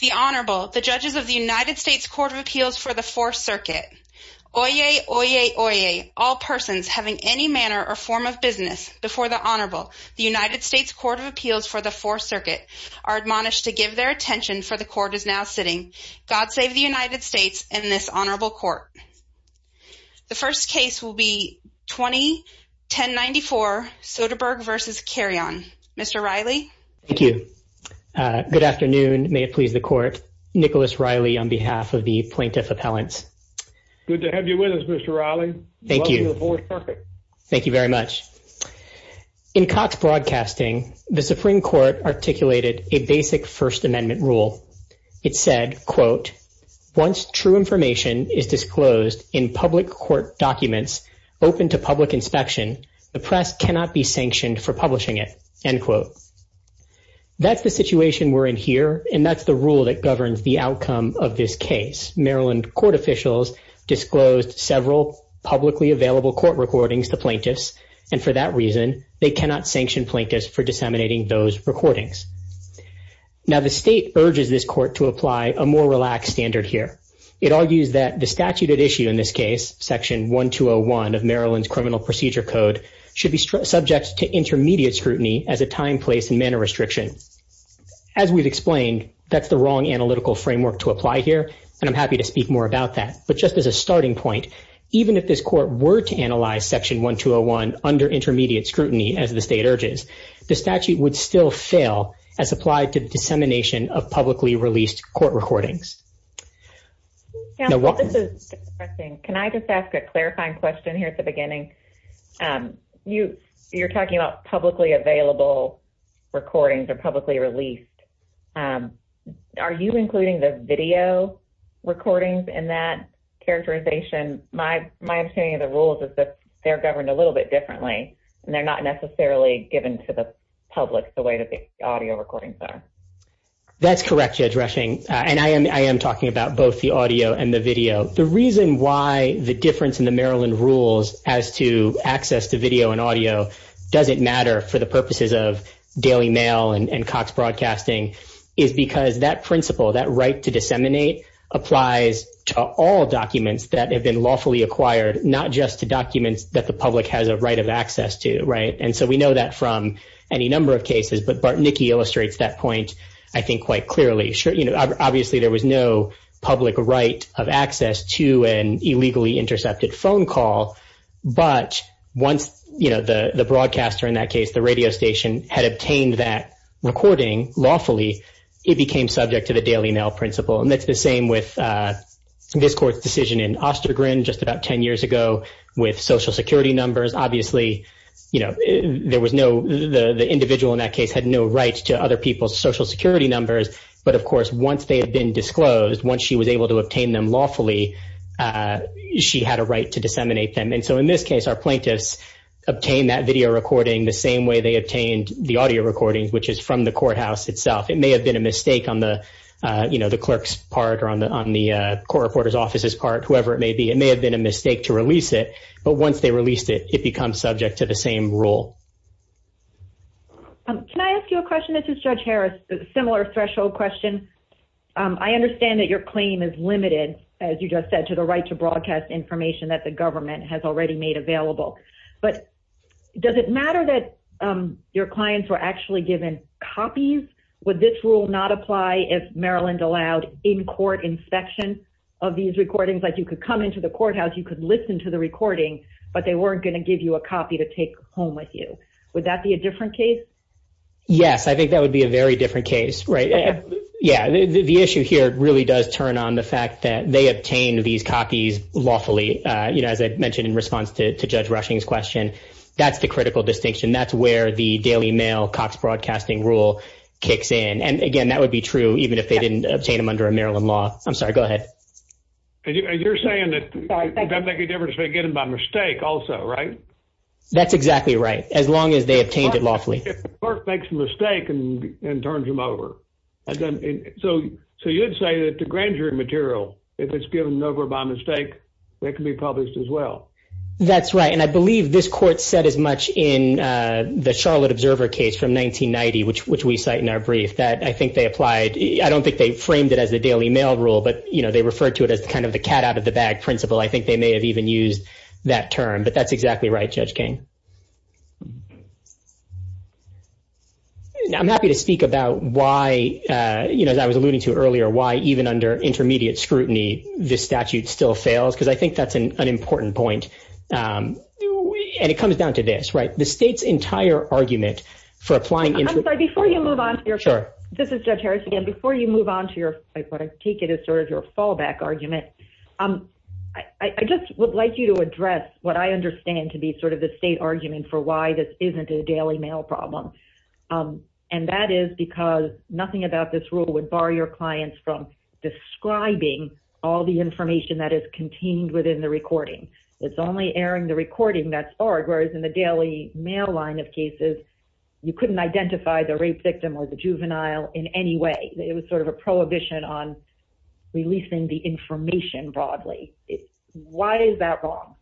The Honorable, the judges of the United States Court of Appeals for the Fourth Circuit. Oyez, oyez, oyez, all persons having any manner or form of business before the Honorable, the United States Court of Appeals for the Fourth Circuit, are admonished to give their attention, for the Court is now sitting. God save the United States and this Honorable Court. The first case will be 20-1094, Soderberg v. Carrion. Mr. Riley? Thank you. Good afternoon. May it please the Court. Nicholas Riley on behalf of the Plaintiff Appellants. Good to have you with us, Mr. Riley. Thank you. Welcome to the Fourth Circuit. Thank you very much. In Cox Broadcasting, the Supreme Court articulated a basic First Amendment rule. It said, quote, once true information is disclosed in public court documents open to public inspection, the press cannot be sanctioned for publishing it, end quote. That's the situation we're in here, and that's the rule that governs the outcome of this case. Maryland court officials disclosed several publicly available court recordings to plaintiffs, and for that reason, they cannot sanction plaintiffs for disseminating those recordings. Now, the state urges this court to apply a more relaxed standard here. It argues that the statute at issue in this case, Section 1201 of Maryland's Criminal Procedure Code, should be subject to intermediate scrutiny as a time, place, and manner restriction. As we've explained, that's the wrong analytical framework to apply here, and I'm happy to speak more about that. But just as a starting point, even if this court were to analyze Section 1201 under intermediate scrutiny, as the state urges, the statute would still fail as applied to dissemination of publicly released court recordings. Can I just ask a clarifying question here at the beginning? You're talking about publicly available recordings or publicly released. Are you including the video recordings in that characterization? My understanding of the rules is that they're governed a little bit differently, and they're not necessarily given to the public the way that the audio recordings are. That's correct, Judge Rushing, and I am talking about both the audio and the video. The reason why the difference in the Maryland rules as to access to video and audio doesn't matter for the purposes of daily mail and Cox Broadcasting is because that principle, that right to disseminate, applies to all documents that have been lawfully acquired, not just to documents that the public has a right of access to. And so we know that from any number of cases, but Bartnicki illustrates that point, I think, quite clearly. Obviously, there was no public right of access to an illegally intercepted phone call, but once the broadcaster in that case, the radio station, had obtained that recording lawfully, it became subject to the daily mail principle. And that's the same with this court's decision in Ostergren just about 10 years ago with Social Security numbers. Obviously, the individual in that case had no right to other people's Social Security numbers, but of course, once they had been disclosed, once she was able to obtain them lawfully, she had a right to disseminate them. And so in this case, our plaintiffs obtained that video recording the same way they obtained the audio recording, which is from the courthouse itself. It may have been a mistake on the clerk's part or on the court reporter's office's part, whoever it may be. It may have been a mistake to release it, but once they released it, it becomes subject to the same rule. Can I ask you a question? This is Judge Harris, a similar threshold question. I understand that your claim is limited, as you just said, to the right to broadcast information that the government has already made available, but does it matter that your clients were actually given copies? Would this rule not apply if Maryland allowed in-court inspection of these recordings, like you could come into the courthouse, you could listen to the recording, but they weren't going to give you a copy to take home with you? Would that be a different case? Yes, I think that would be a very different case, right? Yeah, the issue here really does turn on the fact that they obtained these copies lawfully, as I mentioned in response to Judge Rushing's question. That's the critical distinction. That's where the Daily Mail Cox Broadcasting rule kicks in. And, again, that would be true even if they didn't obtain them under a Maryland law. I'm sorry, go ahead. You're saying that that would make a difference if they get them by mistake also, right? That's exactly right, as long as they obtained it lawfully. If the court makes a mistake and turns them over. So you would say that the grand jury material, if it's given over by mistake, it can be published as well. That's right, and I believe this court said as much in the Charlotte Observer case from 1990, which we cite in our brief, that I think they applied. I don't think they framed it as the Daily Mail rule, but they referred to it as kind of the cat out of the bag principle. I think they may have even used that term. But that's exactly right, Judge King. Now, I'm happy to speak about why, as I was alluding to earlier, why even under intermediate scrutiny this statute still fails, because I think that's an important point. And it comes down to this, right? The state's entire argument for applying. I'm sorry, before you move on. Sure. This is Judge Harris again. Before you move on to your, I take it as sort of your fallback argument, I just would like you to address what I understand to be sort of the state argument for why this isn't a Daily Mail problem. And that is because nothing about this rule would bar your clients from describing all the information that is contained within the recording. It's only airing the recording that's art, whereas in the Daily Mail line of cases you couldn't identify the rape victim or the juvenile in any way. It was sort of a prohibition on releasing the information broadly. Why is that wrong?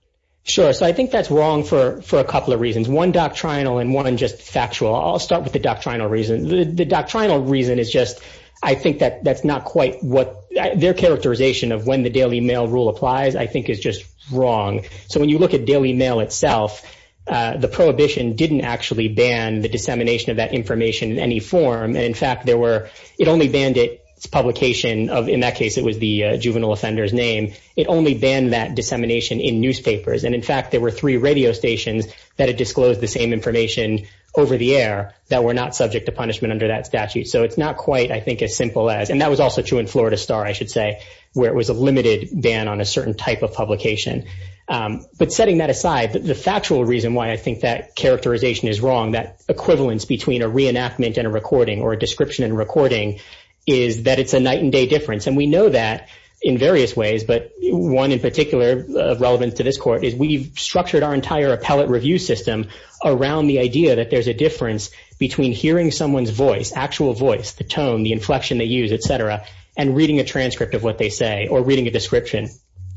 Sure, so I think that's wrong for a couple of reasons, one doctrinal and one just factual. I'll start with the doctrinal reason. The doctrinal reason is just I think that that's not quite what their characterization of when the Daily Mail rule applies I think is just wrong. So when you look at Daily Mail itself, the prohibition didn't actually ban the dissemination of that information in any form. And, in fact, it only banned its publication of, in that case, it was the juvenile offender's name. It only banned that dissemination in newspapers. And, in fact, there were three radio stations that had disclosed the same information over the air that were not subject to punishment under that statute. So it's not quite I think as simple as, and that was also true in Florida Star, I should say, where it was a limited ban on a certain type of publication. But setting that aside, the factual reason why I think that characterization is wrong, that equivalence between a reenactment and a recording or a description and recording is that it's a night and day difference. And we know that in various ways, but one in particular of relevance to this court is we've structured our entire appellate review system around the idea that there's a difference between hearing someone's voice, actual voice, the tone, the inflection they use, et cetera, and reading a transcript of what they say or reading a description.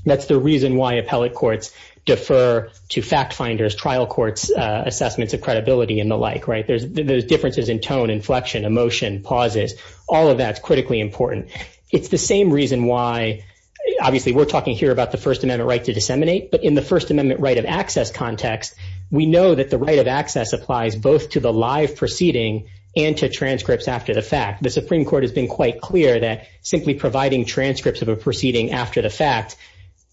That's the reason why appellate courts defer to fact finders, trial courts, assessments of credibility, and the like, right? There's differences in tone, inflection, emotion, pauses. All of that's critically important. It's the same reason why, obviously, we're talking here about the First Amendment right to disseminate, but in the First Amendment right of access context, we know that the right of access applies both to the live proceeding and to transcripts after the fact. The Supreme Court has been quite clear that simply providing transcripts of a fact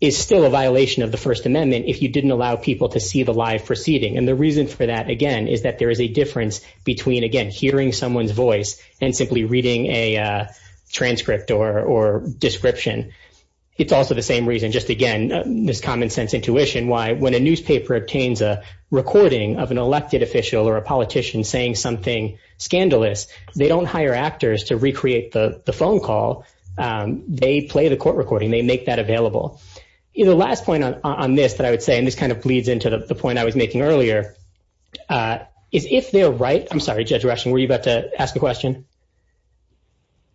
is still a violation of the First Amendment if you didn't allow people to see the live proceeding. And the reason for that, again, is that there is a difference between, again, hearing someone's voice and simply reading a transcript or description. It's also the same reason, just, again, this common sense intuition why when a newspaper obtains a recording of an elected official or a politician saying something scandalous, they don't hire actors to recreate the phone call. They play the court recording. They make that available. The last point on this that I would say, and this kind of bleeds into the point I was making earlier, is if they're right, I'm sorry, Judge Rushing, were you about to ask a question?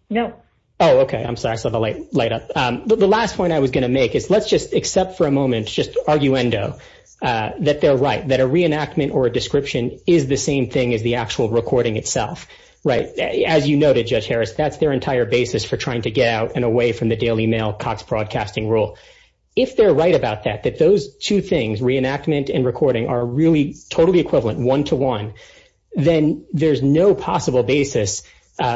No. Oh, okay. I'm sorry. I saw the light up. The last point I was going to make is let's just accept for a moment, just arguendo, that they're right, that a reenactment or a description is the same thing as the actual recording itself, right? As you noted, Judge Harris, that's their entire basis for trying to get out and away from the Daily Mail Cox Broadcasting rule. If they're right about that, that those two things, reenactment and recording, are really totally equivalent, one-to-one, then there's no possible basis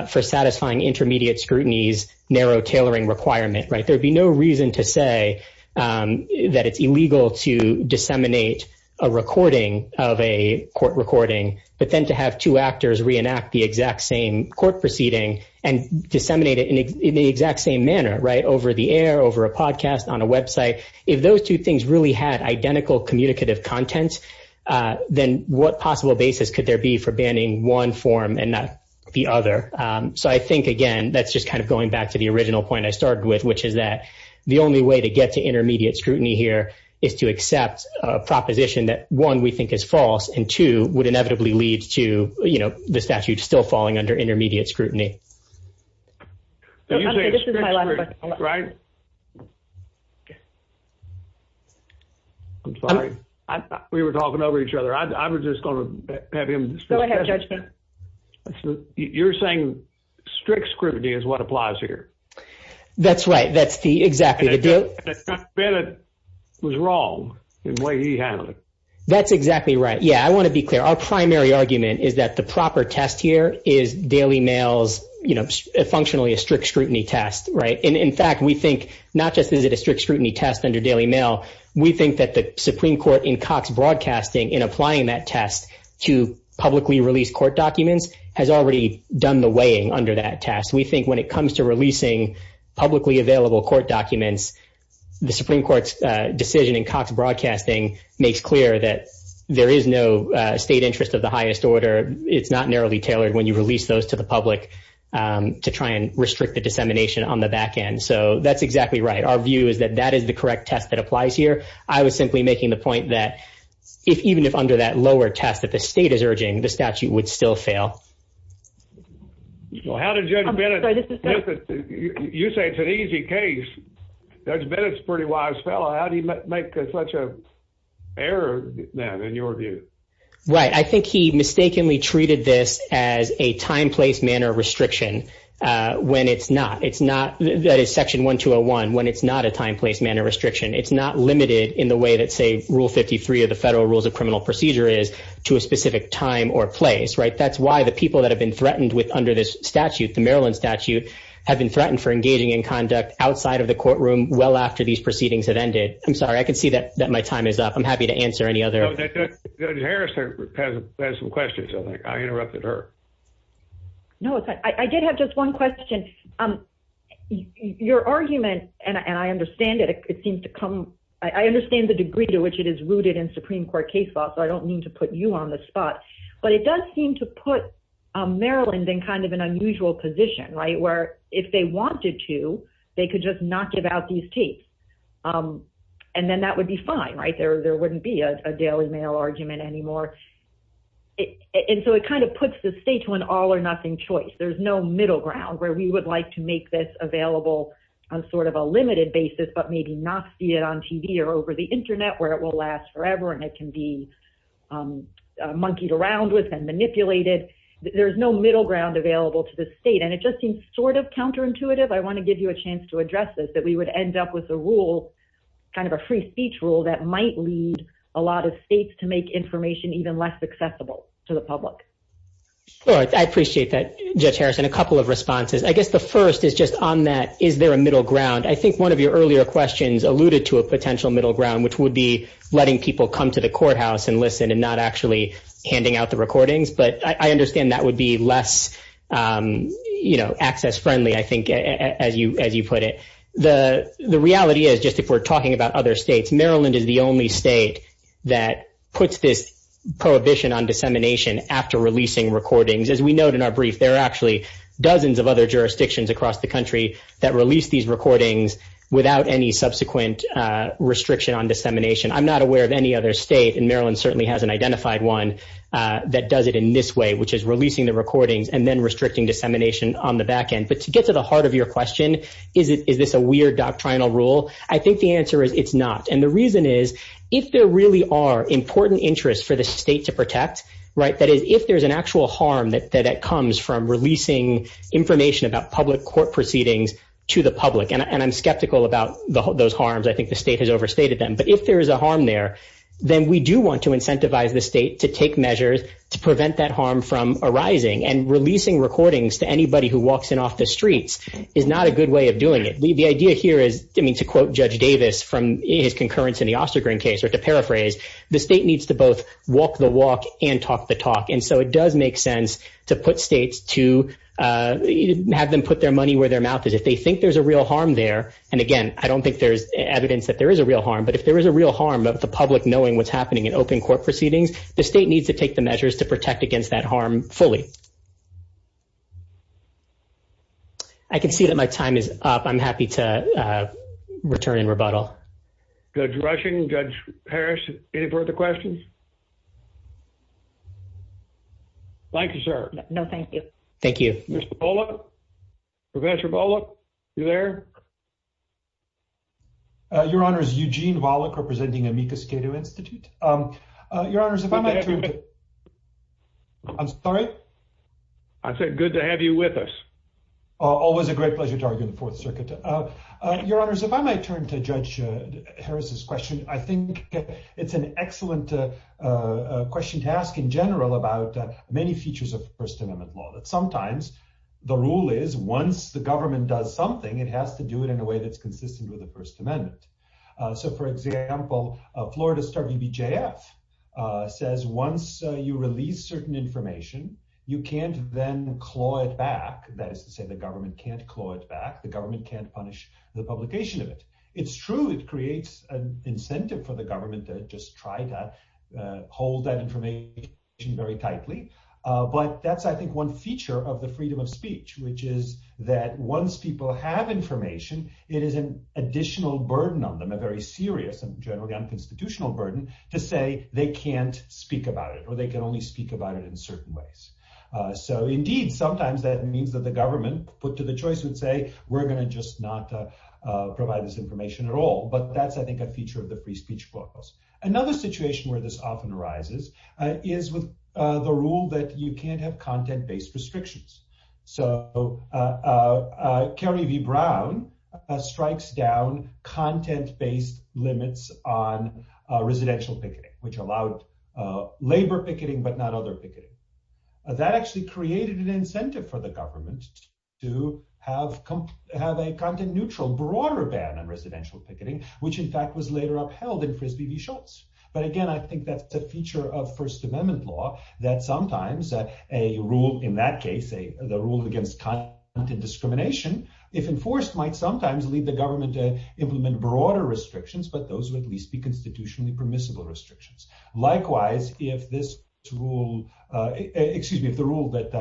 for satisfying intermediate scrutiny's narrow tailoring requirement, right? There would be no reason to say that it's illegal to disseminate a recording of a court recording, but then to have two actors reenact the exact same court proceeding and disseminate it in the exact same manner, right, over the air, over a podcast, on a website. If those two things really had identical communicative content, then what possible basis could there be for banning one form and not the other? So I think, again, that's just kind of going back to the original point I started with, which is that the only way to get to intermediate scrutiny here is to accept a proposition that, one, we think is false, and, two, would inevitably lead to, you know, the statute still falling under intermediate scrutiny. I'm sorry. We were talking over each other. I was just going to have him. Go ahead, Judge. You're saying strict scrutiny is what applies here. That's right. That's the, exactly. Judge Bennett was wrong in the way he handled it. That's exactly right. Yeah. I want to be clear. Our primary argument is that the proper test here is Daily Mail's, you know, functionally a strict scrutiny test, right? And, in fact, we think not just is it a strict scrutiny test under Daily Mail, we think that the Supreme Court in Cox Broadcasting, in applying that test to publicly released court documents, has already done the weighing under that test. We think when it comes to releasing publicly available court documents, the Supreme Court's decision in Cox Broadcasting makes clear that there is no state interest of the highest order. It's not narrowly tailored when you release those to the public to try and restrict the dissemination on the back end. So that's exactly right. Our view is that that is the correct test that applies here. I was simply making the point that, even if under that lower test that the state is urging, the statute would still fail. Well, how did Judge Bennett, you say it's an easy case. Judge Bennett's a pretty wise fellow. How did he make such an error then, in your view? Right. I think he mistakenly treated this as a time, place, manner restriction when it's not. It's not, that is Section 1201, when it's not a time, place, manner restriction. It's not limited in the way that, say, Rule 53 of the Federal Rules of Criminal Procedure is to a specific time or place, right? That's why the people that have been threatened under this statute, the Maryland statute, have been threatened for engaging in conduct outside of the courtroom well after these proceedings have ended. I'm sorry. I can see that my time is up. I'm happy to answer any other. Judge Harris has some questions. I interrupted her. No, I did have just one question. Your argument, and I understand it, it seems to come, I understand the degree to which it is rooted in Supreme Court case law, so I don't mean to put you on the spot. But it does seem to put Maryland in kind of an unusual position, right? Where if they wanted to, they could just not give out these tapes. And then that would be fine, right? There wouldn't be a daily mail argument anymore. And so it kind of puts the state to an all or nothing choice. There's no middle ground where we would like to make this available on sort of a limited basis, but maybe not see it on TV or over the internet where it will last forever. And it can be monkeyed around with and manipulated. There's no middle ground available to the state. And it just seems sort of counterintuitive. I want to give you a chance to address this, that we would end up with a rule, kind of a free speech rule that might lead a lot of states to make information even less accessible to the public. I appreciate that. Judge Harrison, a couple of responses, I guess the first is just on that. Is there a middle ground? I think one of your earlier questions alluded to a potential middle ground, which would be letting people come to the courthouse and listen and not actually handing out the recordings. But I understand that would be less access friendly, I think, as you put it. The reality is, just if we're talking about other states, Maryland is the only state that puts this prohibition on dissemination after releasing recordings. As we note in our brief, there are actually dozens of other jurisdictions across the country that release these recordings without any subsequent restriction on dissemination. I'm not aware of any other state, and Maryland certainly has an identified one that does it in this way, which is releasing the recordings and then restricting dissemination on the back end. But to get to the heart of your question, is this a weird doctrinal rule? I think the answer is it's not. And the reason is, if there really are important interests for the state to protect, that is, if there's an actual harm that comes from releasing information about public court proceedings to the public, and I'm skeptical about those harms, I think the state has overstated them. But if there is a harm there, then we do want to incentivize the state to take measures to prevent that harm from arising. And releasing recordings to anybody who walks in off the streets is not a good way of doing it. The idea here is, I mean, to quote Judge Davis from his concurrence in the Ostergren case, or to paraphrase, the state needs to both walk the walk and talk the talk. And so it does make sense to put states to have them put their money where their mouth is. If they think there's a real harm there, and again, I don't think there's evidence that there is a real harm, but if there is a real harm of the public knowing what's happening in open court proceedings, the state needs to take the measures to protect against that harm fully. I can see that my time is up. I'm happy to return in rebuttal. Judge Rushing, Judge Harris, any further questions? Thank you, sir. No, thank you. Thank you. Mr. Volokh, Professor Volokh, you there? Your honors, Eugene Volokh representing Amicus Cato Institute. Your honors, I'm sorry. I said, good to have you with us. Always a great pleasure to argue the fourth circuit. Your honors, if I might turn to Judge Harris's question, I think it's an excellent question to ask in general about many features of first amendment law that sometimes the rule is once the government does something, it has to do it in a way that's consistent with the first amendment. So for example, Florida star BBJF says, once you release certain information, you can't then claw it back. That is to say the government can't claw it back. The government can't punish the publication of it. It's true. It creates an incentive for the government to just try to hold that information very tightly. But that's, I think one feature of the freedom of speech, which is that once people have information, it is an additional burden on them, a very serious and generally unconstitutional burden to say they can't speak about it, or they can only speak about it in certain ways. So indeed, sometimes that means that the government put to the choice would say, we're going to just not provide this information at all. But that's, I think a feature of the free speech book. Another situation where this often arises is with the rule that you can't have content based restrictions. So Carrie V. Brown strikes down content based limits on residential picketing, which allowed labor picketing, but not other picketing that actually created an incentive for the government to have a content neutral, broader ban on residential picketing, which in fact was later upheld in Frisbee V. Schultz. But again, I think that's a feature of first amendment law that sometimes a rule in that case, the rule against content discrimination, if enforced might sometimes lead the government to implement broader restrictions, but those would at least be constitutionally permissible restrictions. Likewise, if this rule, excuse me, if the rule that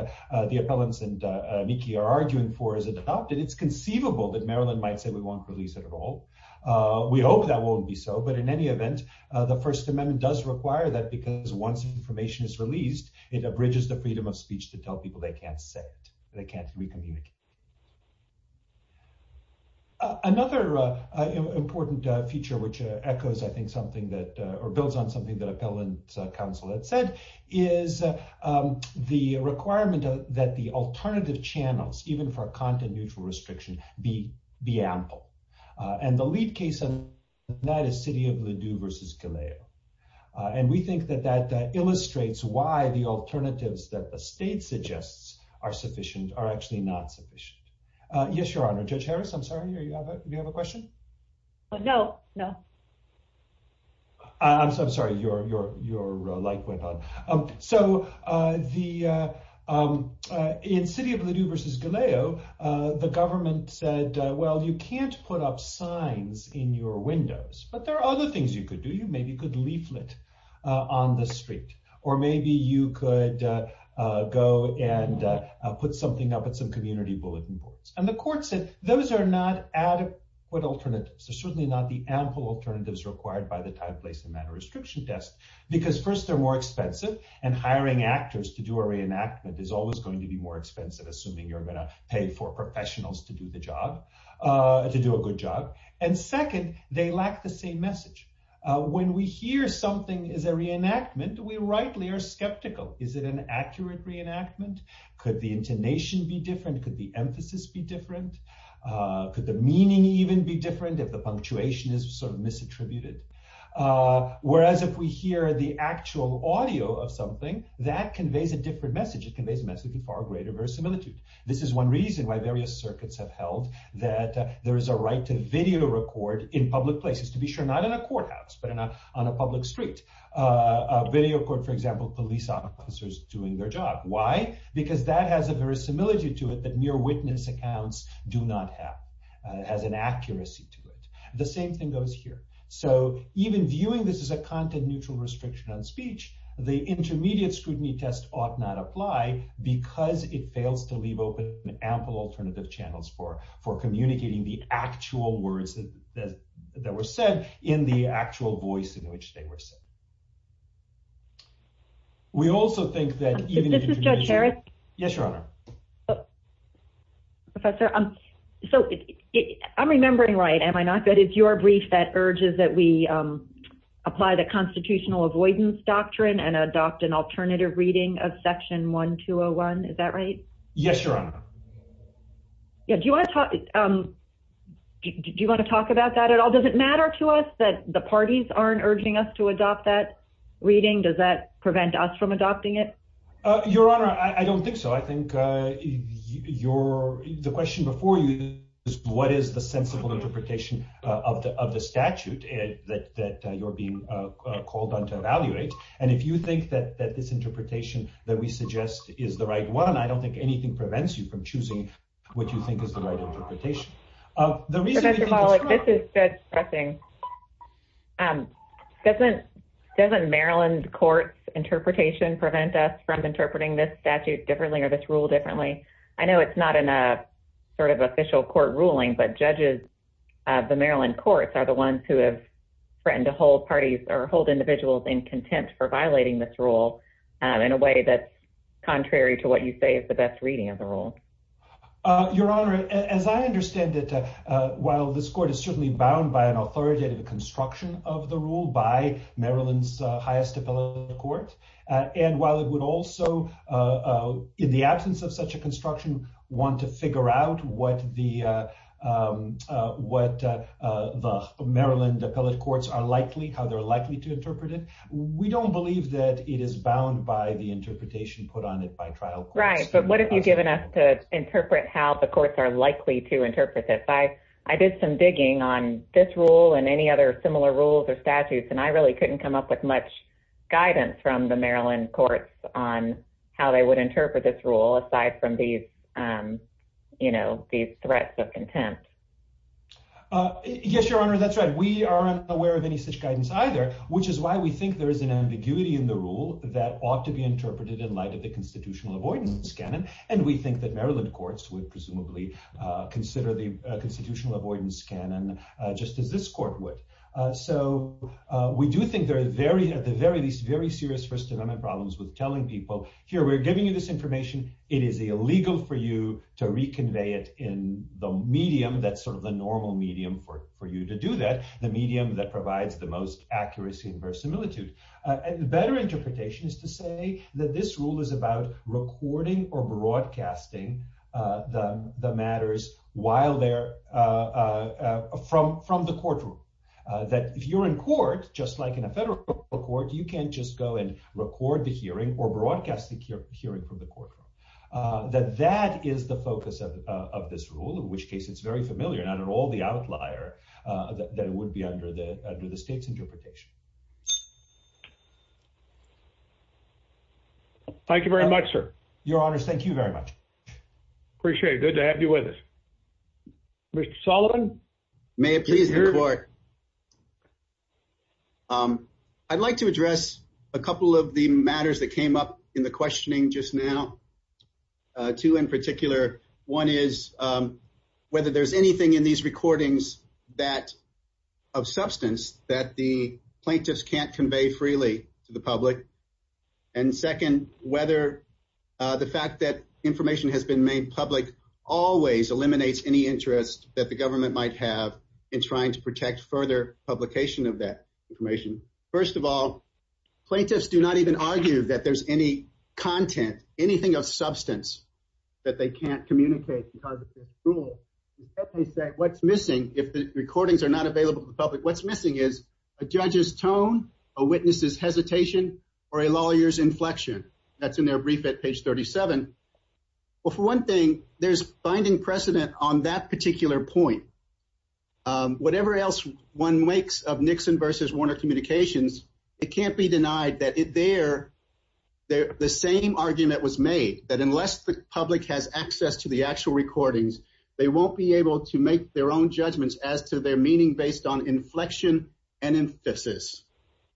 the appellants and Mickey are arguing for is adopted, then it's conceivable that Maryland might say we want to release it at all. We hope that won't be so, but in any event, the first amendment does require that because once information is released, it abridges the freedom of speech to tell people they can't say it. They can't recommunicate. Another important feature, which echoes, I think something that, or builds on something that appellant counsel had said is the requirement that the alternative channels, even for content, neutral restriction, be the ample and the lead case. And that is city of Ladue versus Galea. And we think that that illustrates why the alternatives that the state suggests are sufficient are actually not sufficient. Yes, your honor judge Harris. I'm sorry. You have a, you have a question. No, no, I'm sorry. Your, your, your like went on. So the, in city of Ladue versus Galea, the government said, well, you can't put up signs in your windows, but there are other things you could do. You maybe could leaflet on the street, or maybe you could go and put something up at some community bulletin boards. And the court said, those are not at what alternate. So certainly not the ample alternatives required by the type, place, and manner restriction test, because first they're more expensive and hiring actors to do a reenactment is always going to be more expensive. Assuming you're going to pay for professionals to do the job, to do a good job. And second, they lack the same message. When we hear something is a reenactment, we rightly are skeptical. Is it an accurate reenactment? Could the intonation be different? Could the emphasis be different? Could the meaning even be different if the punctuation is sort of misattributed? Whereas if we hear the actual audio of something that conveys a different message, it conveys a message of far greater verisimilitude. This is one reason why various circuits have held that there is a right to video record in public places to be sure, not in a courthouse, but in a, on a public street video court, for example, police officers doing their job. Why? Because that has a verisimilitude to it that mere witness accounts do not have. It has an accuracy to it. The same thing goes here. So even viewing this as a content neutral restriction on speech, the intermediate scrutiny test ought not apply because it fails to leave open an ample alternative channels for, for communicating the actual words that were said in the actual voice in which they were. We also think that. Yes, your honor. Professor. So I'm remembering right. Am I not good? If you are brief that urges that we apply the constitutional avoidance doctrine and adopt an alternative reading of section one, two Oh one. Is that right? Yes, your honor. Yeah. Do you want to talk? Do you want to talk about that at all? Does it matter to us that the parties aren't urging us to adopt that reading? Does that prevent us from adopting it? Your honor. I don't think so. I think you're the question before you. What is the sensible interpretation of the, of the statute that you're being called on to evaluate. And if you think that, that this interpretation that we suggest is the right one, I don't think anything prevents you from choosing. What do you think is the right interpretation? This is good. Doesn't doesn't Maryland court. Interpretation prevent us from interpreting this statute differently or this rule differently. I know it's not in a sort of official court ruling, but judges. The Maryland courts are the ones who have. Friend to hold parties or hold individuals in contempt for violating this rule. And in a way that's contrary to what you say is the best reading of the role. Your honor. As I understand it, while this court is certainly bound by an authoritative construction of the rule by Maryland's highest ability, And while it would also in the absence of such a construction, want to figure out what the, what the Maryland appellate courts are likely, how they're likely to interpret it. We don't believe that it is bound by the interpretation put on it by trial. Right. But what have you given us to interpret how the courts are likely to interpret this? I did some digging on this rule and any other similar rules or statutes, And I really couldn't come up with much. Guidance from the Maryland courts on how they would interpret this rule aside from these, you know, these threats of contempt. Yes, your honor. That's right. We aren't aware of any such guidance either, which is why we think there is an ambiguity in the rule that ought to be interpreted in light of the constitutional avoidance. And we think that Maryland courts would presumably consider the constitutional avoidance. Just as this court would. So we do think there are very, at the very least, very serious first amendment problems with telling people here, we're giving you this information. It is illegal for you to reconvey it in the medium. That's sort of the normal medium for you to do that. The medium that provides the most accuracy and verisimilitude and better interpretation is to say that this rule is about recording or broadcasting the matters while they're from, from the courtroom. That if you're in court, just like in a federal court, you can't just go and record the hearing or broadcast the hearing from the courtroom. That, that is the focus of, of this rule, in which case it's very familiar. Not at all the outlier that it would be under the, under the state's interpretation. Thank you very much, sir. Your honors. Thank you very much. Appreciate it. Good to have you with us. Mr. Sullivan. May it please the court. I'd like to address a couple of the matters that came up in the questioning just now. Two in particular, one is whether there's anything in these recordings that of substance that the plaintiffs can't convey freely to the public. And second, whether the fact that information has been made public always eliminates any interest that the government might have in trying to protect further publication of that information. First of all, plaintiffs do not even argue that there's any content, anything of substance that they can't communicate because of this rule. They say what's missing. If the recordings are not available to the public, it's either an inflection or a lawyer's inflection that's in their brief at page 37. Well, for one thing, there's finding precedent on that particular point. Whatever else one makes of Nixon versus Warner communications, it can't be denied that it there, the same argument was made that unless the public has access to the actual recordings, they won't be able to make their own judgments as to their meaning based on inflection and emphasis.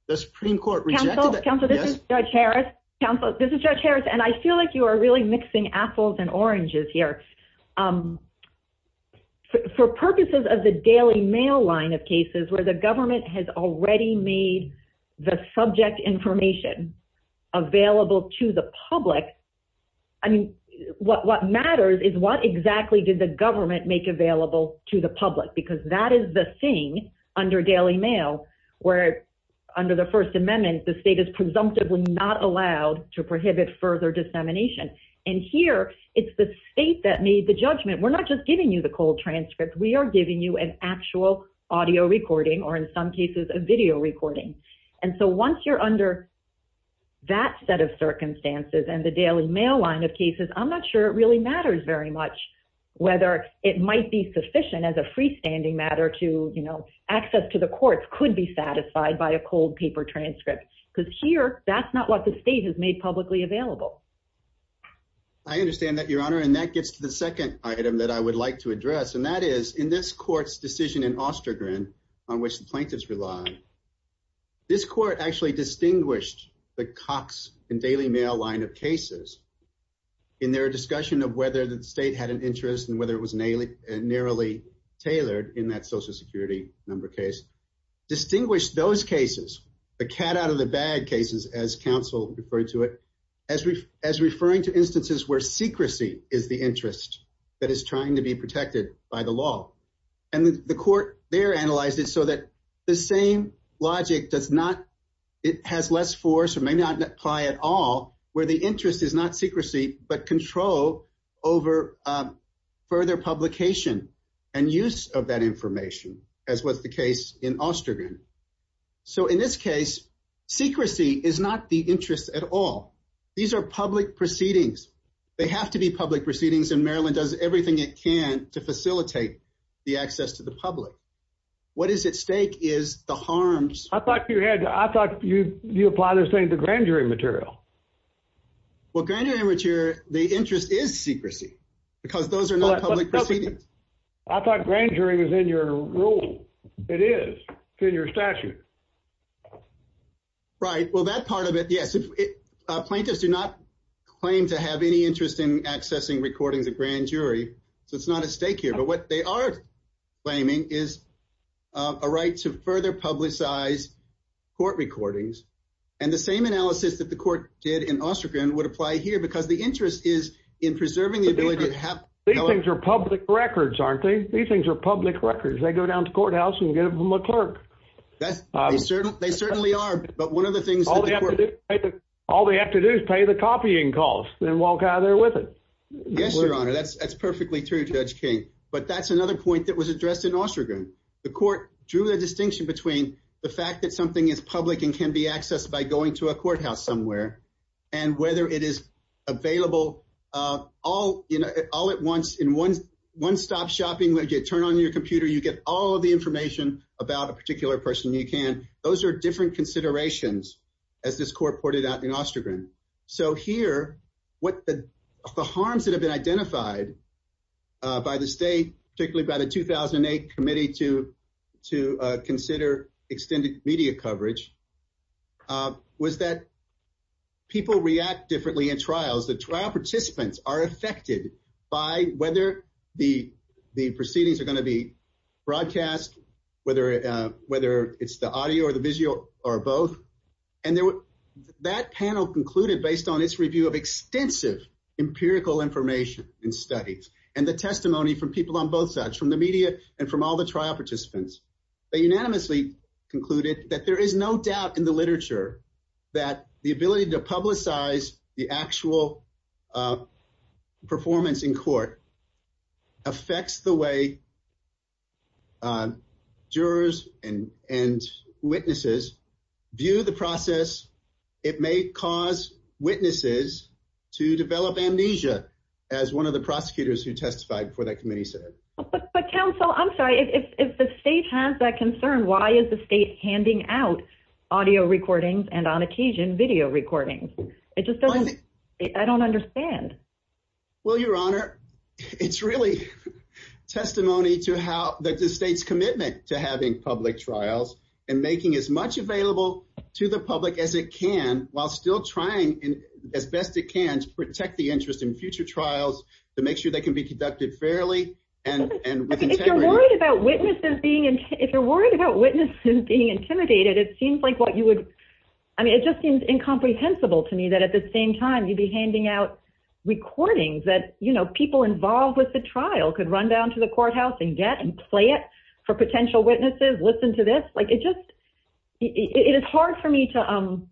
The Supreme court rejected that. This is judge Harris. And I feel like you are really mixing apples and oranges here for purposes of the daily mail line of cases where the government has already made the subject information available to the public. I mean, what, what matters is what exactly did the government make available to the public? Because that is the thing under daily mail where under the first amendment, the state is presumptively not allowed to prohibit further dissemination. And here it's the state that made the judgment. We're not just giving you the cold transcript. We are giving you an actual audio recording or in some cases a video recording. And so once you're under that set of circumstances and the daily mail line of cases, I'm not sure it really matters very much whether it might be sufficient as a freestanding matter to, you know, access to the courts could be satisfied by a cold paper transcript because here that's not what the state has made publicly available. I understand that your honor. And that gets to the second item that I would like to address. And that is in this court's decision in Ostergren on which the plaintiffs rely, this court actually distinguished the Cox and daily mail line of cases in their discussion of whether the state had an interest and whether it was narrowly tailored in that social security number case, distinguished those cases, the cat out of the bag cases, as counsel referred to it as we, as referring to instances where secrecy is the interest that is trying to be protected by the law. And the court there analyzed it so that the same logic does not, it has less force or may not apply at all where the interest is not secrecy, but control over further publication and use of that information as was the case in Ostergren. So in this case, secrecy is not the interest at all. These are public proceedings. They have to be public proceedings in Maryland does everything it can to facilitate the access to the public. What is at stake is the harms. I thought you had, I thought you, you apply this thing to grand jury material. Well, granted amateur, the interest is secrecy because those are not public proceedings. I thought grand jury was in your rule. It is in your statute, right? Well, that part of it. Yes. Plaintiffs do not claim to have any interest in accessing recordings of grand jury. So it's not a stake here, but what they are claiming is a right to further publicize court recordings and the same analysis that the court did in Ostergren would apply here because the interest is in preserving the ability to have public records, aren't they? These things are public records. They go down to courthouse and get them from a clerk. They certainly are. But one of the things, all they have to do is pay the copying costs and walk out of there with it. That's perfectly true judge King. But that's another point that was addressed in Ostergren. The court drew the distinction between the fact that something is public and can be accessed by going to a courthouse somewhere and whether it is available all in all at once in one, one stop shopping, where you turn on your computer, you get all of the information about a particular person you can. Those are different considerations as this court ported out in Ostergren. So here, what the, the harms that have been identified by the state, particularly by the 2008 committee to, to consider extended media coverage, was that people react differently in trials. The trial participants are affected by whether the, the proceedings are going to be broadcast, whether, whether it's the audio or the visual or both. And there were, that panel concluded based on its review of extensive empirical information and studies and the testimony from people on both sides, from the media and from all the trial participants, they unanimously concluded that there is no doubt in the literature that the ability to publicize the actual performance in court affects the way jurors and, and witnesses view the process. It may cause witnesses to develop amnesia as one of the prosecutors who But counsel, I'm sorry. If the state has that concern, why is the state handing out audio recordings and on occasion video recordings? It just doesn't, I don't understand. Well, your honor, it's really testimony to how the, the state's commitment to having public trials and making as much available to the public as it can while still trying as best it can to protect the interest in future trials to make sure they can be conducted fairly and, and with integrity. If you're worried about witnesses being, if you're worried about witnesses being intimidated, it seems like what you would, I mean, it just seems incomprehensible to me that at the same time you'd be handing out recordings that, you know, people involved with the trial could run down to the courthouse and get and play it for potential witnesses. Listen to this. Like it just, it is hard for me to, I'm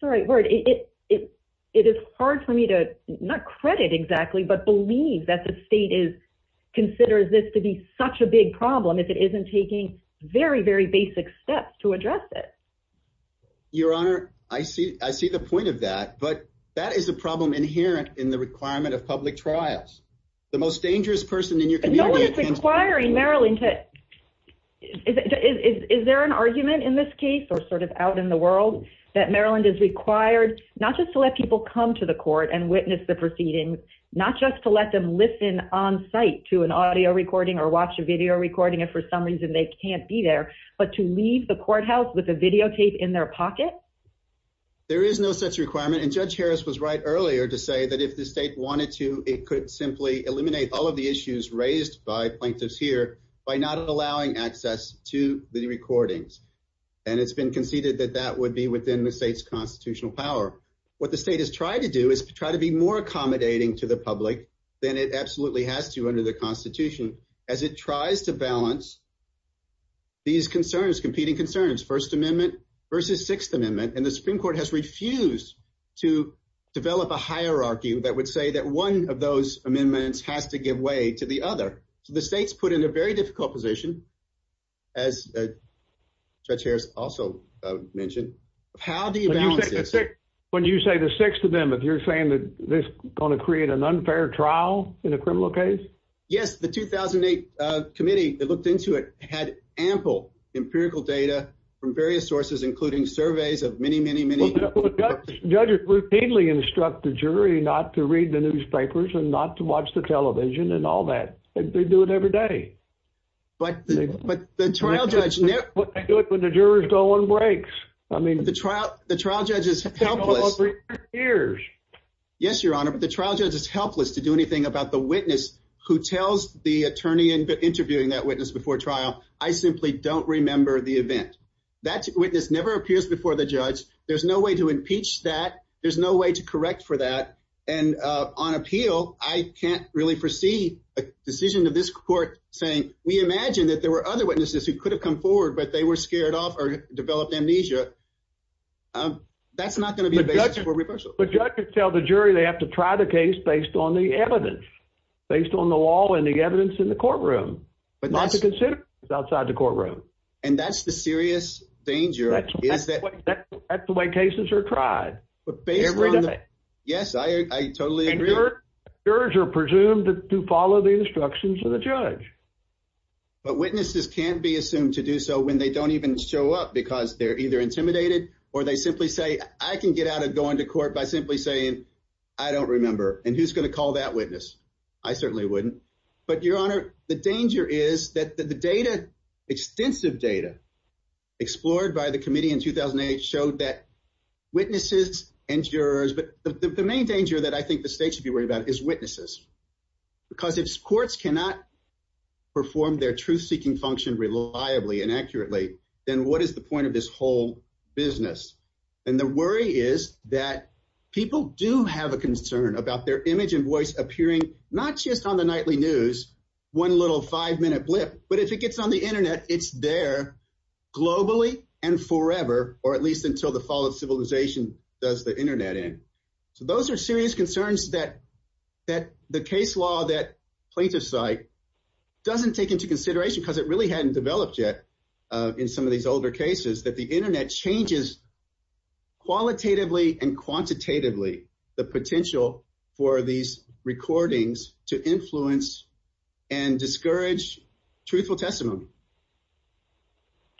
sorry, word. It, it, it is hard for me to not credit exactly, but believe that the state is considers this to be such a big problem. If it isn't taking very, very basic steps to address it. Your honor. I see, I see the point of that, but that is a problem inherent in the requirement of public trials. The most dangerous person in your community. It's requiring Maryland to is, is there an argument in this case or sort of out in the world that Maryland is required not just to let people come to the court and witness the proceedings, not just to let them listen on site to an audio recording or watch a video recording. And for some reason they can't be there, but to leave the courthouse with a videotape in their pocket. There is no such requirement. And judge Harris was right earlier to say that if the state wanted to, it could simply eliminate all of the issues raised by plaintiffs here by not allowing access to the recordings. And it's been conceded that that would be within the state's constitutional power. What the state has tried to do is to try to be more accommodating to the public than it absolutely has to under the constitution as it tries to balance these concerns, competing concerns, first amendment versus sixth amendment. And the Supreme court has refused to develop a hierarchy that would say that one of those amendments has to give way to the other. So the state's put in a very difficult position as judge Harris also mentioned, how do you balance this? When you say the sixth amendment, you're saying that this is going to create an unfair trial in a criminal case. Yes. The 2008 committee that looked into it had ample empirical data from various sources, including surveys of many, many, many judges routinely instruct the jury not to read the newspapers and not to watch the television and all that. They do it every day, but the trial judge, but they do it when the jurors go on breaks. I mean, the trial, the trial judge is helpless ears. Yes, Your Honor, but the trial judge is helpless to do anything about the witness who tells the attorney and interviewing that witness before trial. I simply don't remember the event that witness never appears before the judge. There's no way to impeach that. There's no way to correct for that. And on appeal, I can't really foresee a decision of this court saying, we imagine that there were other witnesses who could have come forward, but they were scared off or developed amnesia. That's not going to be for reversal, but judges tell the jury, they have to try the case based on the evidence, based on the law and the evidence in the courtroom, but not to consider outside the courtroom. And that's the serious danger. That's the way cases are tried. Yes, I totally agree. Jurors are presumed to follow the instructions of the judge, but witnesses can't be assumed to do so when they don't even show up because they're either intimidated or they simply say, I can get out of going to court by simply saying, I don't remember. And who's going to call that witness. I certainly wouldn't, but Your Honor, the danger is that the data extensive data explored by the committee in 2008 showed that witnesses and jurors, but the main danger that I think the state should be worried about is witnesses because if courts cannot perform their truth seeking function reliably and accurately, then what is the point of this whole business? And the worry is that people do have a concern about their image and voice appearing, not just on the nightly news, one little five minute blip, but if it gets on the internet, it's there globally and forever, or at least until the fall of civilization does the internet in. So those are serious concerns that, that the case law, that plaintiff site doesn't take into consideration because it really hadn't developed yet in some of these older cases, that the internet changes qualitatively and quantitatively the potential for these recordings to influence and discourage truthful testimony.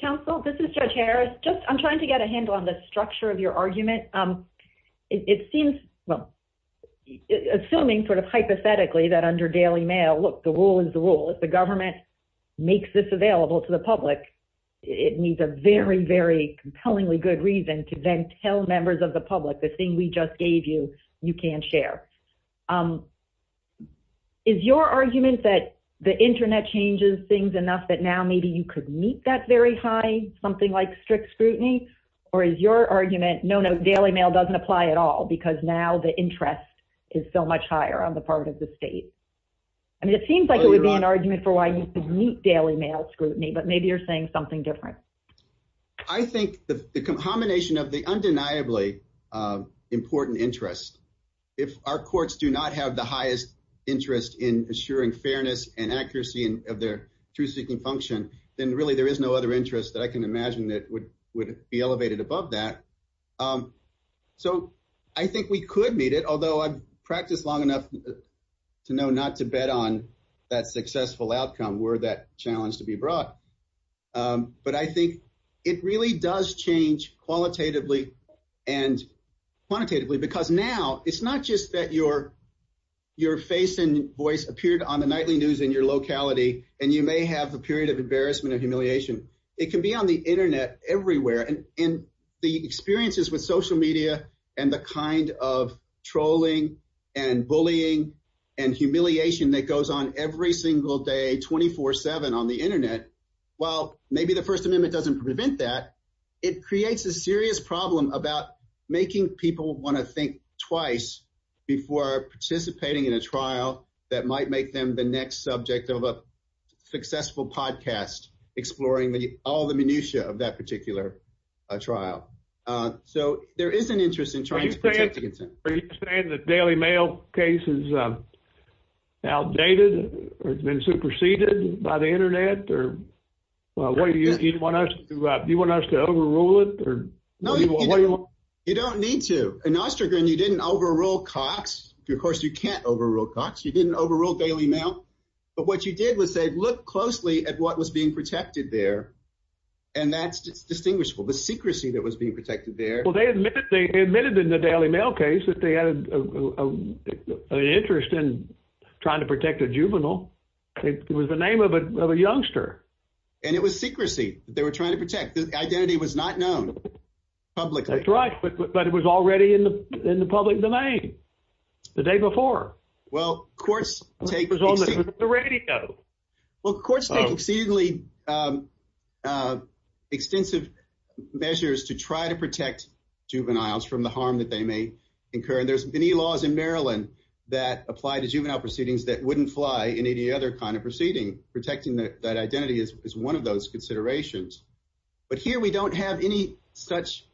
Counsel, this is judge Harris. Just I'm trying to get a handle on the structure of your argument. It seems, well, assuming sort of hypothetically that under daily mail, look, the rule is the rule. If the government makes this available to the public, it needs a very, very compellingly good reason to then tell members of the public, the thing we just gave you, you can't share. Is your argument that the internet changes things enough that now maybe you could meet that very high, something like strict scrutiny or is your argument? No, no. Daily mail doesn't apply at all because now the interest is so much higher on the part of the state. I mean, it seems like it would be an argument for why you could meet daily mail scrutiny, but maybe you're saying something different. I think the combination of the undeniably important interest, if our courts do not have the highest interest in assuring fairness and accuracy of their truth seeking function, then really there is no other interest that I can imagine that would, would be elevated above that. So I think we could meet it, although I've practiced long enough to know not to bet on that successful outcome where that challenge to be brought. But I think it really does change qualitatively and quantitatively because now it's not just that your, your face and voice appeared on the nightly news in your locality and you may have a period of embarrassment and humiliation. It can be on the internet everywhere. And in the experiences with social media and the kind of trolling and bullying and humiliation that goes on every single day, 24 seven on the internet. Well, maybe the first amendment doesn't prevent that. It creates a serious problem about making people want to think twice before participating in a trial that might make them the next subject of a successful podcast, exploring all the minutia of that particular trial. So there is an interest in trying to protect the consent. Are you saying the Daily Mail case is outdated or has been superseded by the Daily Mail? You don't need to. In Ostroger and you didn't overrule Cox. Of course you can't overrule Cox. You didn't overrule Daily Mail. But what you did was say, look closely at what was being protected there. And that's just distinguishable. The secrecy that was being protected there. Well, they admitted in the Daily Mail case that they had an interest in trying to protect a juvenile. It was the name of a youngster and it was secrecy that they were trying to protect. It was not known publicly. That's right. But it was already in the public domain the day before. Well, courts take exceedingly extensive measures to try to protect juveniles from the harm that they may incur. And there's many laws in Maryland that apply to juvenile proceedings that wouldn't fly in any other kind of proceeding. Protecting that identity is one of those considerations. But here we don't have any such,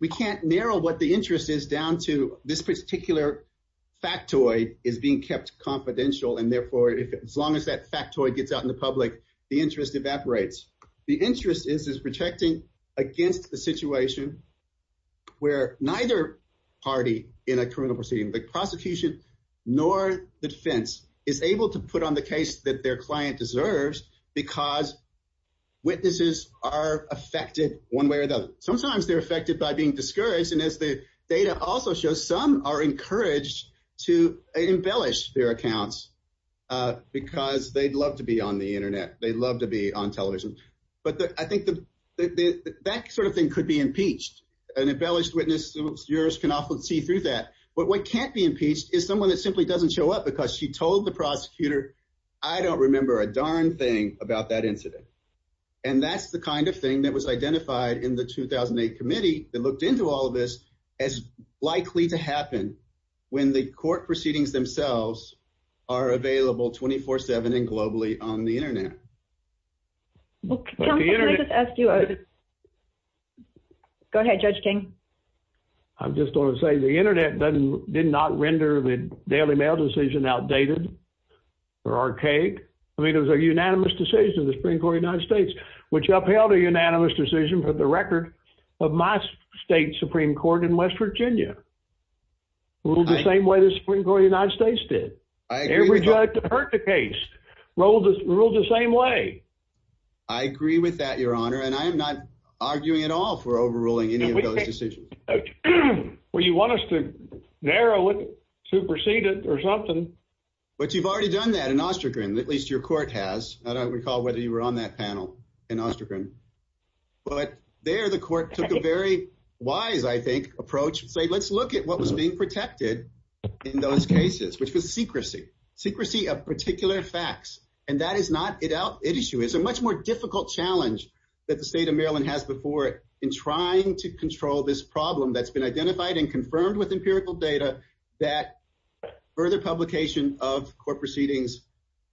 we can't narrow what the interest is down to this particular factoid is being kept confidential. And therefore, as long as that factoid gets out in the public, the interest evaporates. The interest is, is protecting against the situation where neither party in a criminal proceeding, the prosecution nor the defense is able to put on the case that their client deserves because witnesses are affected one way or the other. Sometimes they're affected by being discouraged. And as the data also shows, some are encouraged to embellish their accounts because they'd love to be on the internet. They'd love to be on television. But I think that sort of thing could be impeached and embellished witnesses. Jurors can often see through that, but what can't be impeached is someone that simply doesn't show up because she told the prosecutor. I don't remember a darn thing about that incident. And that's the kind of thing that was identified in the 2008 committee that looked into all of this as likely to happen when the court proceedings themselves are available 24, seven and globally on the internet. Go ahead, judge King. I'm just going to say the internet doesn't, did not render the daily mail decision outdated. Or archaic. I mean, it was a unanimous decision of the Supreme court of the United States, which upheld a unanimous decision for the record of my state Supreme court in West Virginia. We'll do the same way. The Supreme court of the United States did hurt the case. Roll the rules the same way. I agree with that, your honor. And I am not arguing at all for overruling any of those decisions. Well, if you want us to narrow it, supersede it or something, but you've already done that in Ostrogrin, at least your court has, I don't recall whether you were on that panel in Ostrogrin, but there the court took a very wise, I think approach and say, let's look at what was being protected in those cases, which was secrecy, secrecy of particular facts. And that is not it out. It issue is a much more difficult challenge that the state of Maryland has before in trying to control this problem that's been identified and confirmed with empirical data, that further publication of court proceedings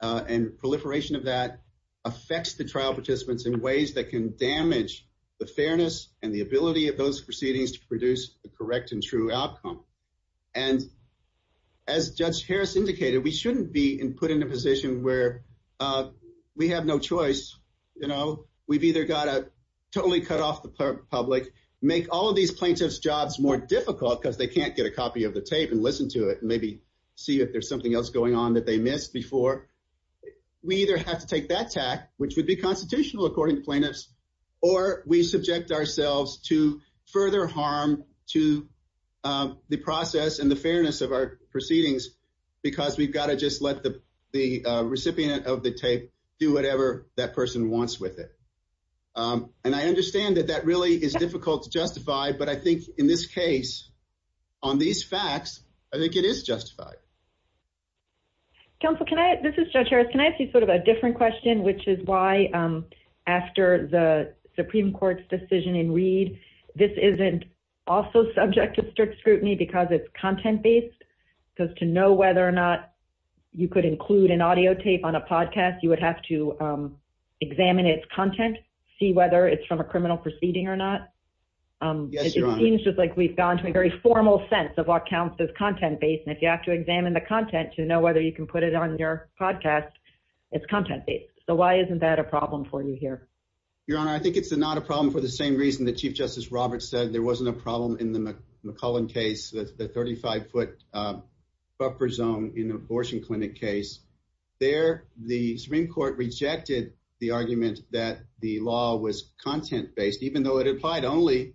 and proliferation of that affects the trial participants in ways that can damage the fairness and the ability of those proceedings to produce the correct and true outcome. And as judge Harris indicated, we shouldn't be in put in a position where we have no choice. You know, we've either got to totally cut off the public, make all of these plaintiffs jobs more difficult because they can't get a copy of the tape and listen to it and maybe see if there's something else going on that they missed before. We either have to take that tack, which would be constitutional according to plaintiffs, or we subject ourselves to further harm to the process and the fairness of our proceedings, because we've got to just let the recipient of the tape do whatever that person wants with it. And I understand that that really is difficult to justify, but I think in this case on these facts, I think it is justified. Counsel, can I, this is judge Harris. Can I ask you sort of a different question, which is why after the Supreme court's decision in read, this isn't also subject to strict scrutiny because it's content based because to know whether or not you could include an audio tape on a podcast, you would have to examine its content, see whether it's from a criminal proceeding or not. It seems just like we've gone to a very formal sense of what counts as content based. And if you have to examine the content to know whether you can put it on your podcast, it's content based. So why isn't that a problem for you here? Your Honor, I think it's not a problem for the same reason that chief justice Roberts said there wasn't a problem in the McClellan case, the 35 foot buffer zone in abortion clinic case there, the Supreme court rejected the argument that the law was content based, even though it applied only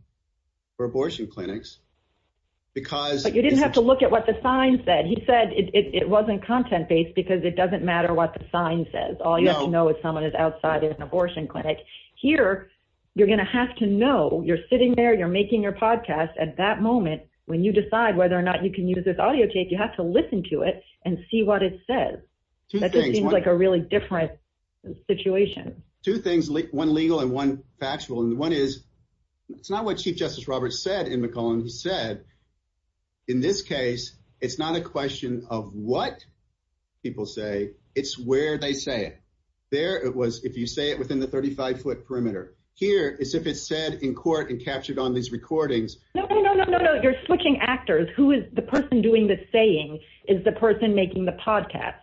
for abortion clinics, because you didn't have to look at what the sign said. He said it wasn't content based because it doesn't matter what the sign says. All you have to know is someone is outside of an abortion clinic here. You're going to have to know you're sitting there. You're making your podcast at that moment. When you decide whether or not you can use this audio tape, you have to listen to it and see what it says. That just seems like a really different situation. Two things, one legal and one factual. And the one is it's not what chief justice Roberts said in McClellan. He said, in this case, it's not a question of what people say. It's where they say it there. It was, if you say it within the 35 foot perimeter here is if it said in court and captured on these recordings. No, no, no, no, no. You're switching actors. Who is the person doing this? Saying is the person making the podcast.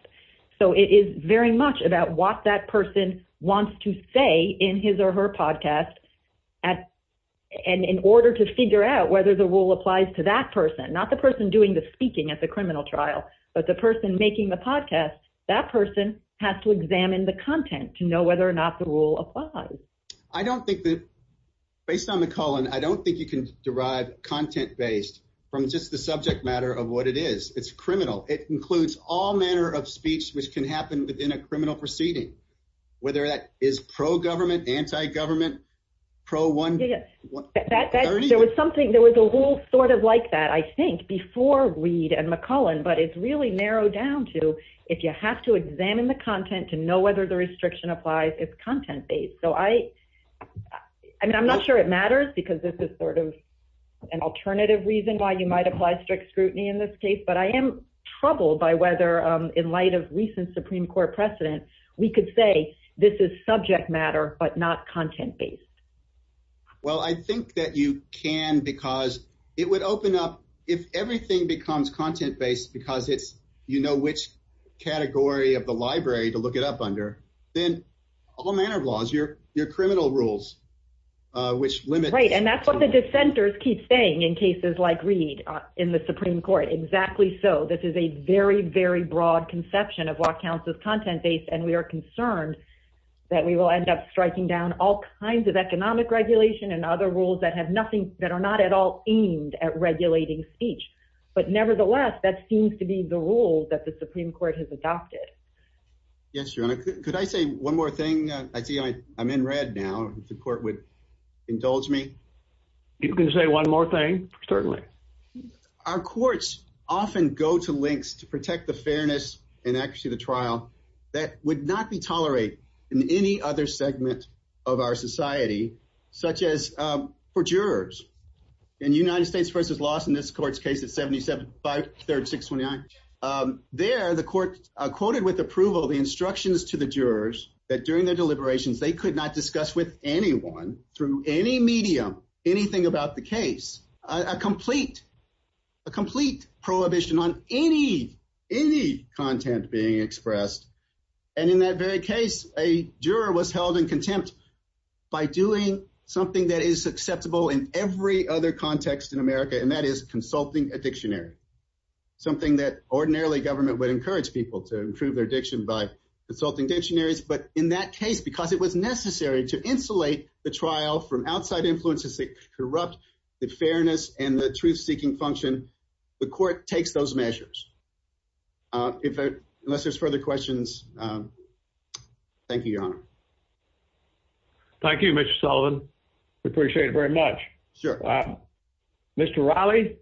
So it is very much about what that person wants to say in his or her podcast. At and in order to figure out whether the rule applies to that person, not the person doing the speaking at the criminal trial, but the person making the podcast, that person has to examine the content to know whether or not the rule applies. I don't think that based on the colon, I don't think you can derive content based from just the subject matter of what it is. It's criminal. It includes all manner of speech, which can happen within a criminal proceeding. Whether that is pro government, anti-government pro one. There was something, there was a little sort of like that, I think before Reed and McClellan, but it's really narrowed down to, if you have to examine the content to know whether the restriction applies it's content based. So I, I mean, I'm not sure it matters because this is sort of an alternative reason why you might apply strict scrutiny in this case, but I am troubled by whether in light of recent Supreme court precedent, we could say this is subject matter, but not content based. Well, I think that you can, because it would open up if everything becomes content based because it's, you know, which category of the library to look it up under then all manner of laws, your, your criminal rules, which limit. Right. And that's what the dissenters keep saying in cases like Reed in the Supreme court. Exactly. So this is a very, very broad conception of what counts as content based. And we are concerned that we will end up striking down all kinds of economic regulation and other rules that have nothing that are not at all aimed at regulating speech, but nevertheless, that seems to be the rule that the Supreme court has adopted. Yes. Could I say one more thing? I see I I'm in red. Now the court would indulge me. You can say one more thing. Certainly our courts often go to links to protect the fairness and accuracy of the trial. That would not be tolerate in any other segment of our society, such as for jurors in United States versus loss. In this court's case, it's 77, five, 36, 29. There, the court quoted with approval, the instructions to the jurors that during their deliberations, they could not discuss with anyone through any medium, anything about the case, a complete, a complete prohibition on any, any content being expressed. And in that very case, a juror was held in contempt by doing something that is acceptable in every other context in America. And that is consulting a dictionary, something that ordinarily government would encourage people to improve their life consulting dictionaries. But in that case, because it was necessary to insulate the trial from outside influences, that corrupt the fairness and the truth seeking function. The court takes those measures. Unless there's further questions. Thank you, your honor. Thank you, Mr. Sullivan. We appreciate it very much. Sure. Mr. Raleigh.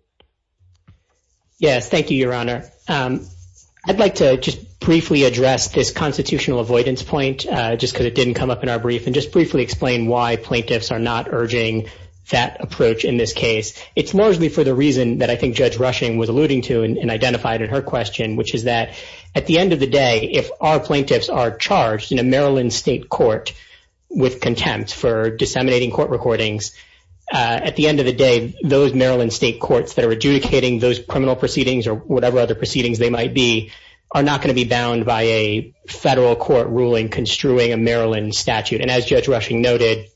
Yes. Thank you, your honor. I'd like to just briefly address this constitutional avoidance point just because it didn't come up in our brief and just briefly explain why plaintiffs are not urging that approach in this case. It's largely for the reason that I think judge rushing was alluding to and identified in her question, which is that at the end of the day, if our plaintiffs are charged in a Maryland state court with contempt for disseminating court recordings at the end of the day, those Maryland state courts that are adjudicating those criminal proceedings or whatever other proceedings they might be, are not going to be bound by a federal court ruling construing a Maryland statute. And as judge rushing noted,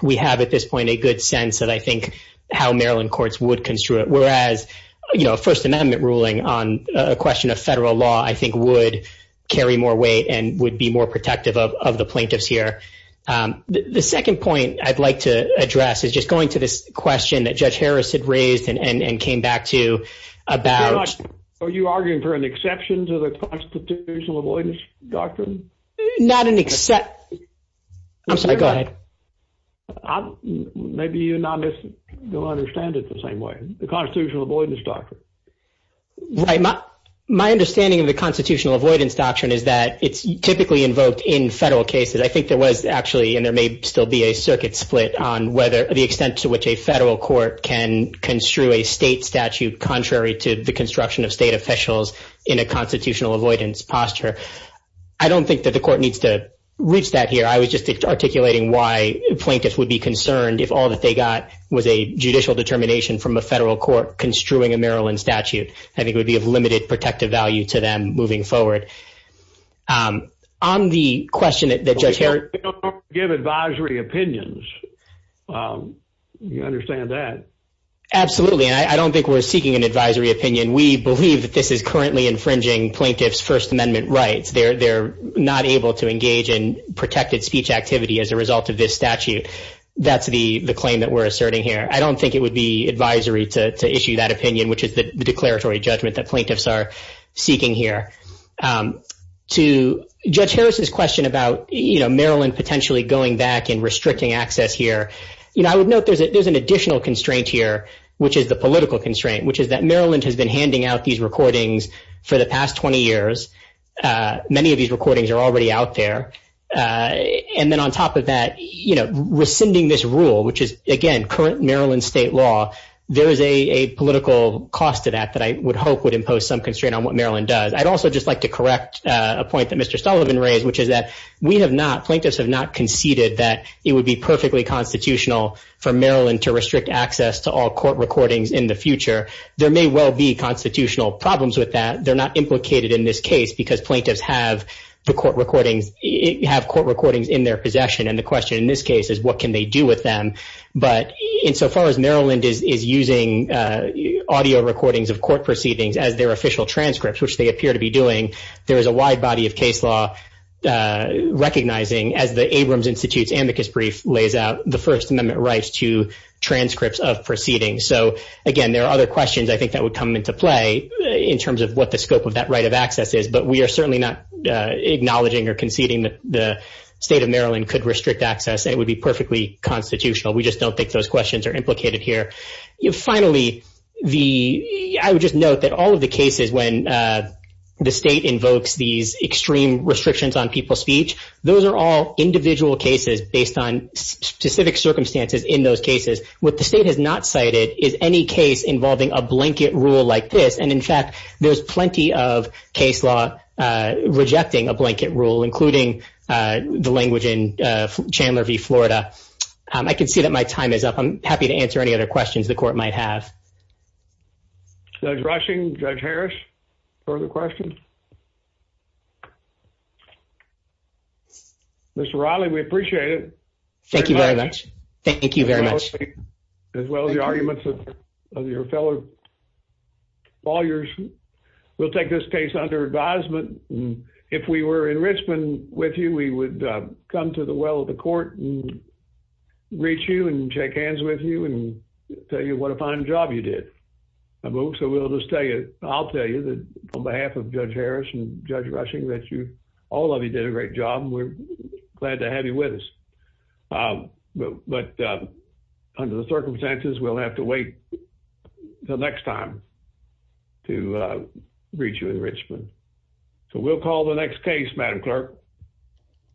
we have at this point a good sense that I think how Maryland courts would construe it. Whereas, you know, first amendment ruling on a question of federal law, I think would carry more weight and would be more protective of, of the plaintiffs here. The second point I'd like to address is just going to this question that you came back to about. Are you arguing for an exception to the constitutional avoidance doctrine? Not an except. I'm sorry. Go ahead. Maybe you're not. You'll understand it the same way. The constitutional avoidance doctrine. Right. My understanding of the constitutional avoidance doctrine is that it's typically invoked in federal cases. I think there was actually, and there may still be a circuit split on whether the extent to which a state statute, contrary to the construction of state officials in a constitutional avoidance posture. I don't think that the court needs to reach that here. I was just articulating why plaintiffs would be concerned if all that they got was a judicial determination from a federal court construing a Maryland statute. I think it would be of limited protective value to them moving forward. On the question that judge Harris. Give advisory opinions. You understand that? Absolutely. And I don't think we're seeking an advisory opinion. We believe that this is currently infringing plaintiff's first amendment rights. They're, they're not able to engage in protected speech activity as a result of this statute. That's the claim that we're asserting here. I don't think it would be advisory to issue that opinion, which is the declaratory judgment that plaintiffs are seeking here. To judge Harris's question about, you know, Maryland potentially going back and restricting access here. You know, I would note there's a, there's an additional constraint here, which is the political constraint, which is that Maryland has been handing out these recordings for the past 20 years. Many of these recordings are already out there. And then on top of that, you know, rescinding this rule, which is again, current Maryland state law, there is a political cost to that, that I would hope would impose some constraint on what Maryland does. I'd also just like to correct a point that Mr. Sullivan raised, which is that we have not plaintiffs have not conceded that it would be unconstitutional for Maryland to restrict access to all court recordings in the future. There may well be constitutional problems with that. They're not implicated in this case because plaintiffs have the court recordings, have court recordings in their possession. And the question in this case is what can they do with them? But in so far as Maryland is, is using audio recordings of court proceedings as their official transcripts, which they appear to be doing, there is a wide body of case law recognizing as the Abrams Institute's First Amendment rights to transcripts of proceedings. So again, there are other questions I think that would come into play in terms of what the scope of that right of access is, but we are certainly not acknowledging or conceding that the state of Maryland could restrict access. It would be perfectly constitutional. We just don't think those questions are implicated here. You finally, the, I would just note that all of the cases when the state invokes these extreme restrictions on people's speech, those are all individual cases based on specific circumstances in those cases. What the state has not cited is any case involving a blanket rule like this. And in fact, there's plenty of case law rejecting a blanket rule, including the language in Chandler v. Florida. I can see that my time is up. I'm happy to answer any other questions the court might have. Judge Rushing, Judge Harris, further questions? Mr. Riley, we appreciate it. Thank you very much. Thank you very much. As well as the arguments of your fellow lawyers. We'll take this case under advisement. If we were in Richmond with you, we would come to the well of the court and reach you and shake hands with you and tell you what a fine job you did. So we'll just tell you, I'll tell you that on behalf of Judge Harris and Judge Rushing, that you, all of you did a great job and we're glad to have you with us. But under the circumstances, we'll have to wait until next time to reach you in Richmond. So we'll call the next case, Madam clerk.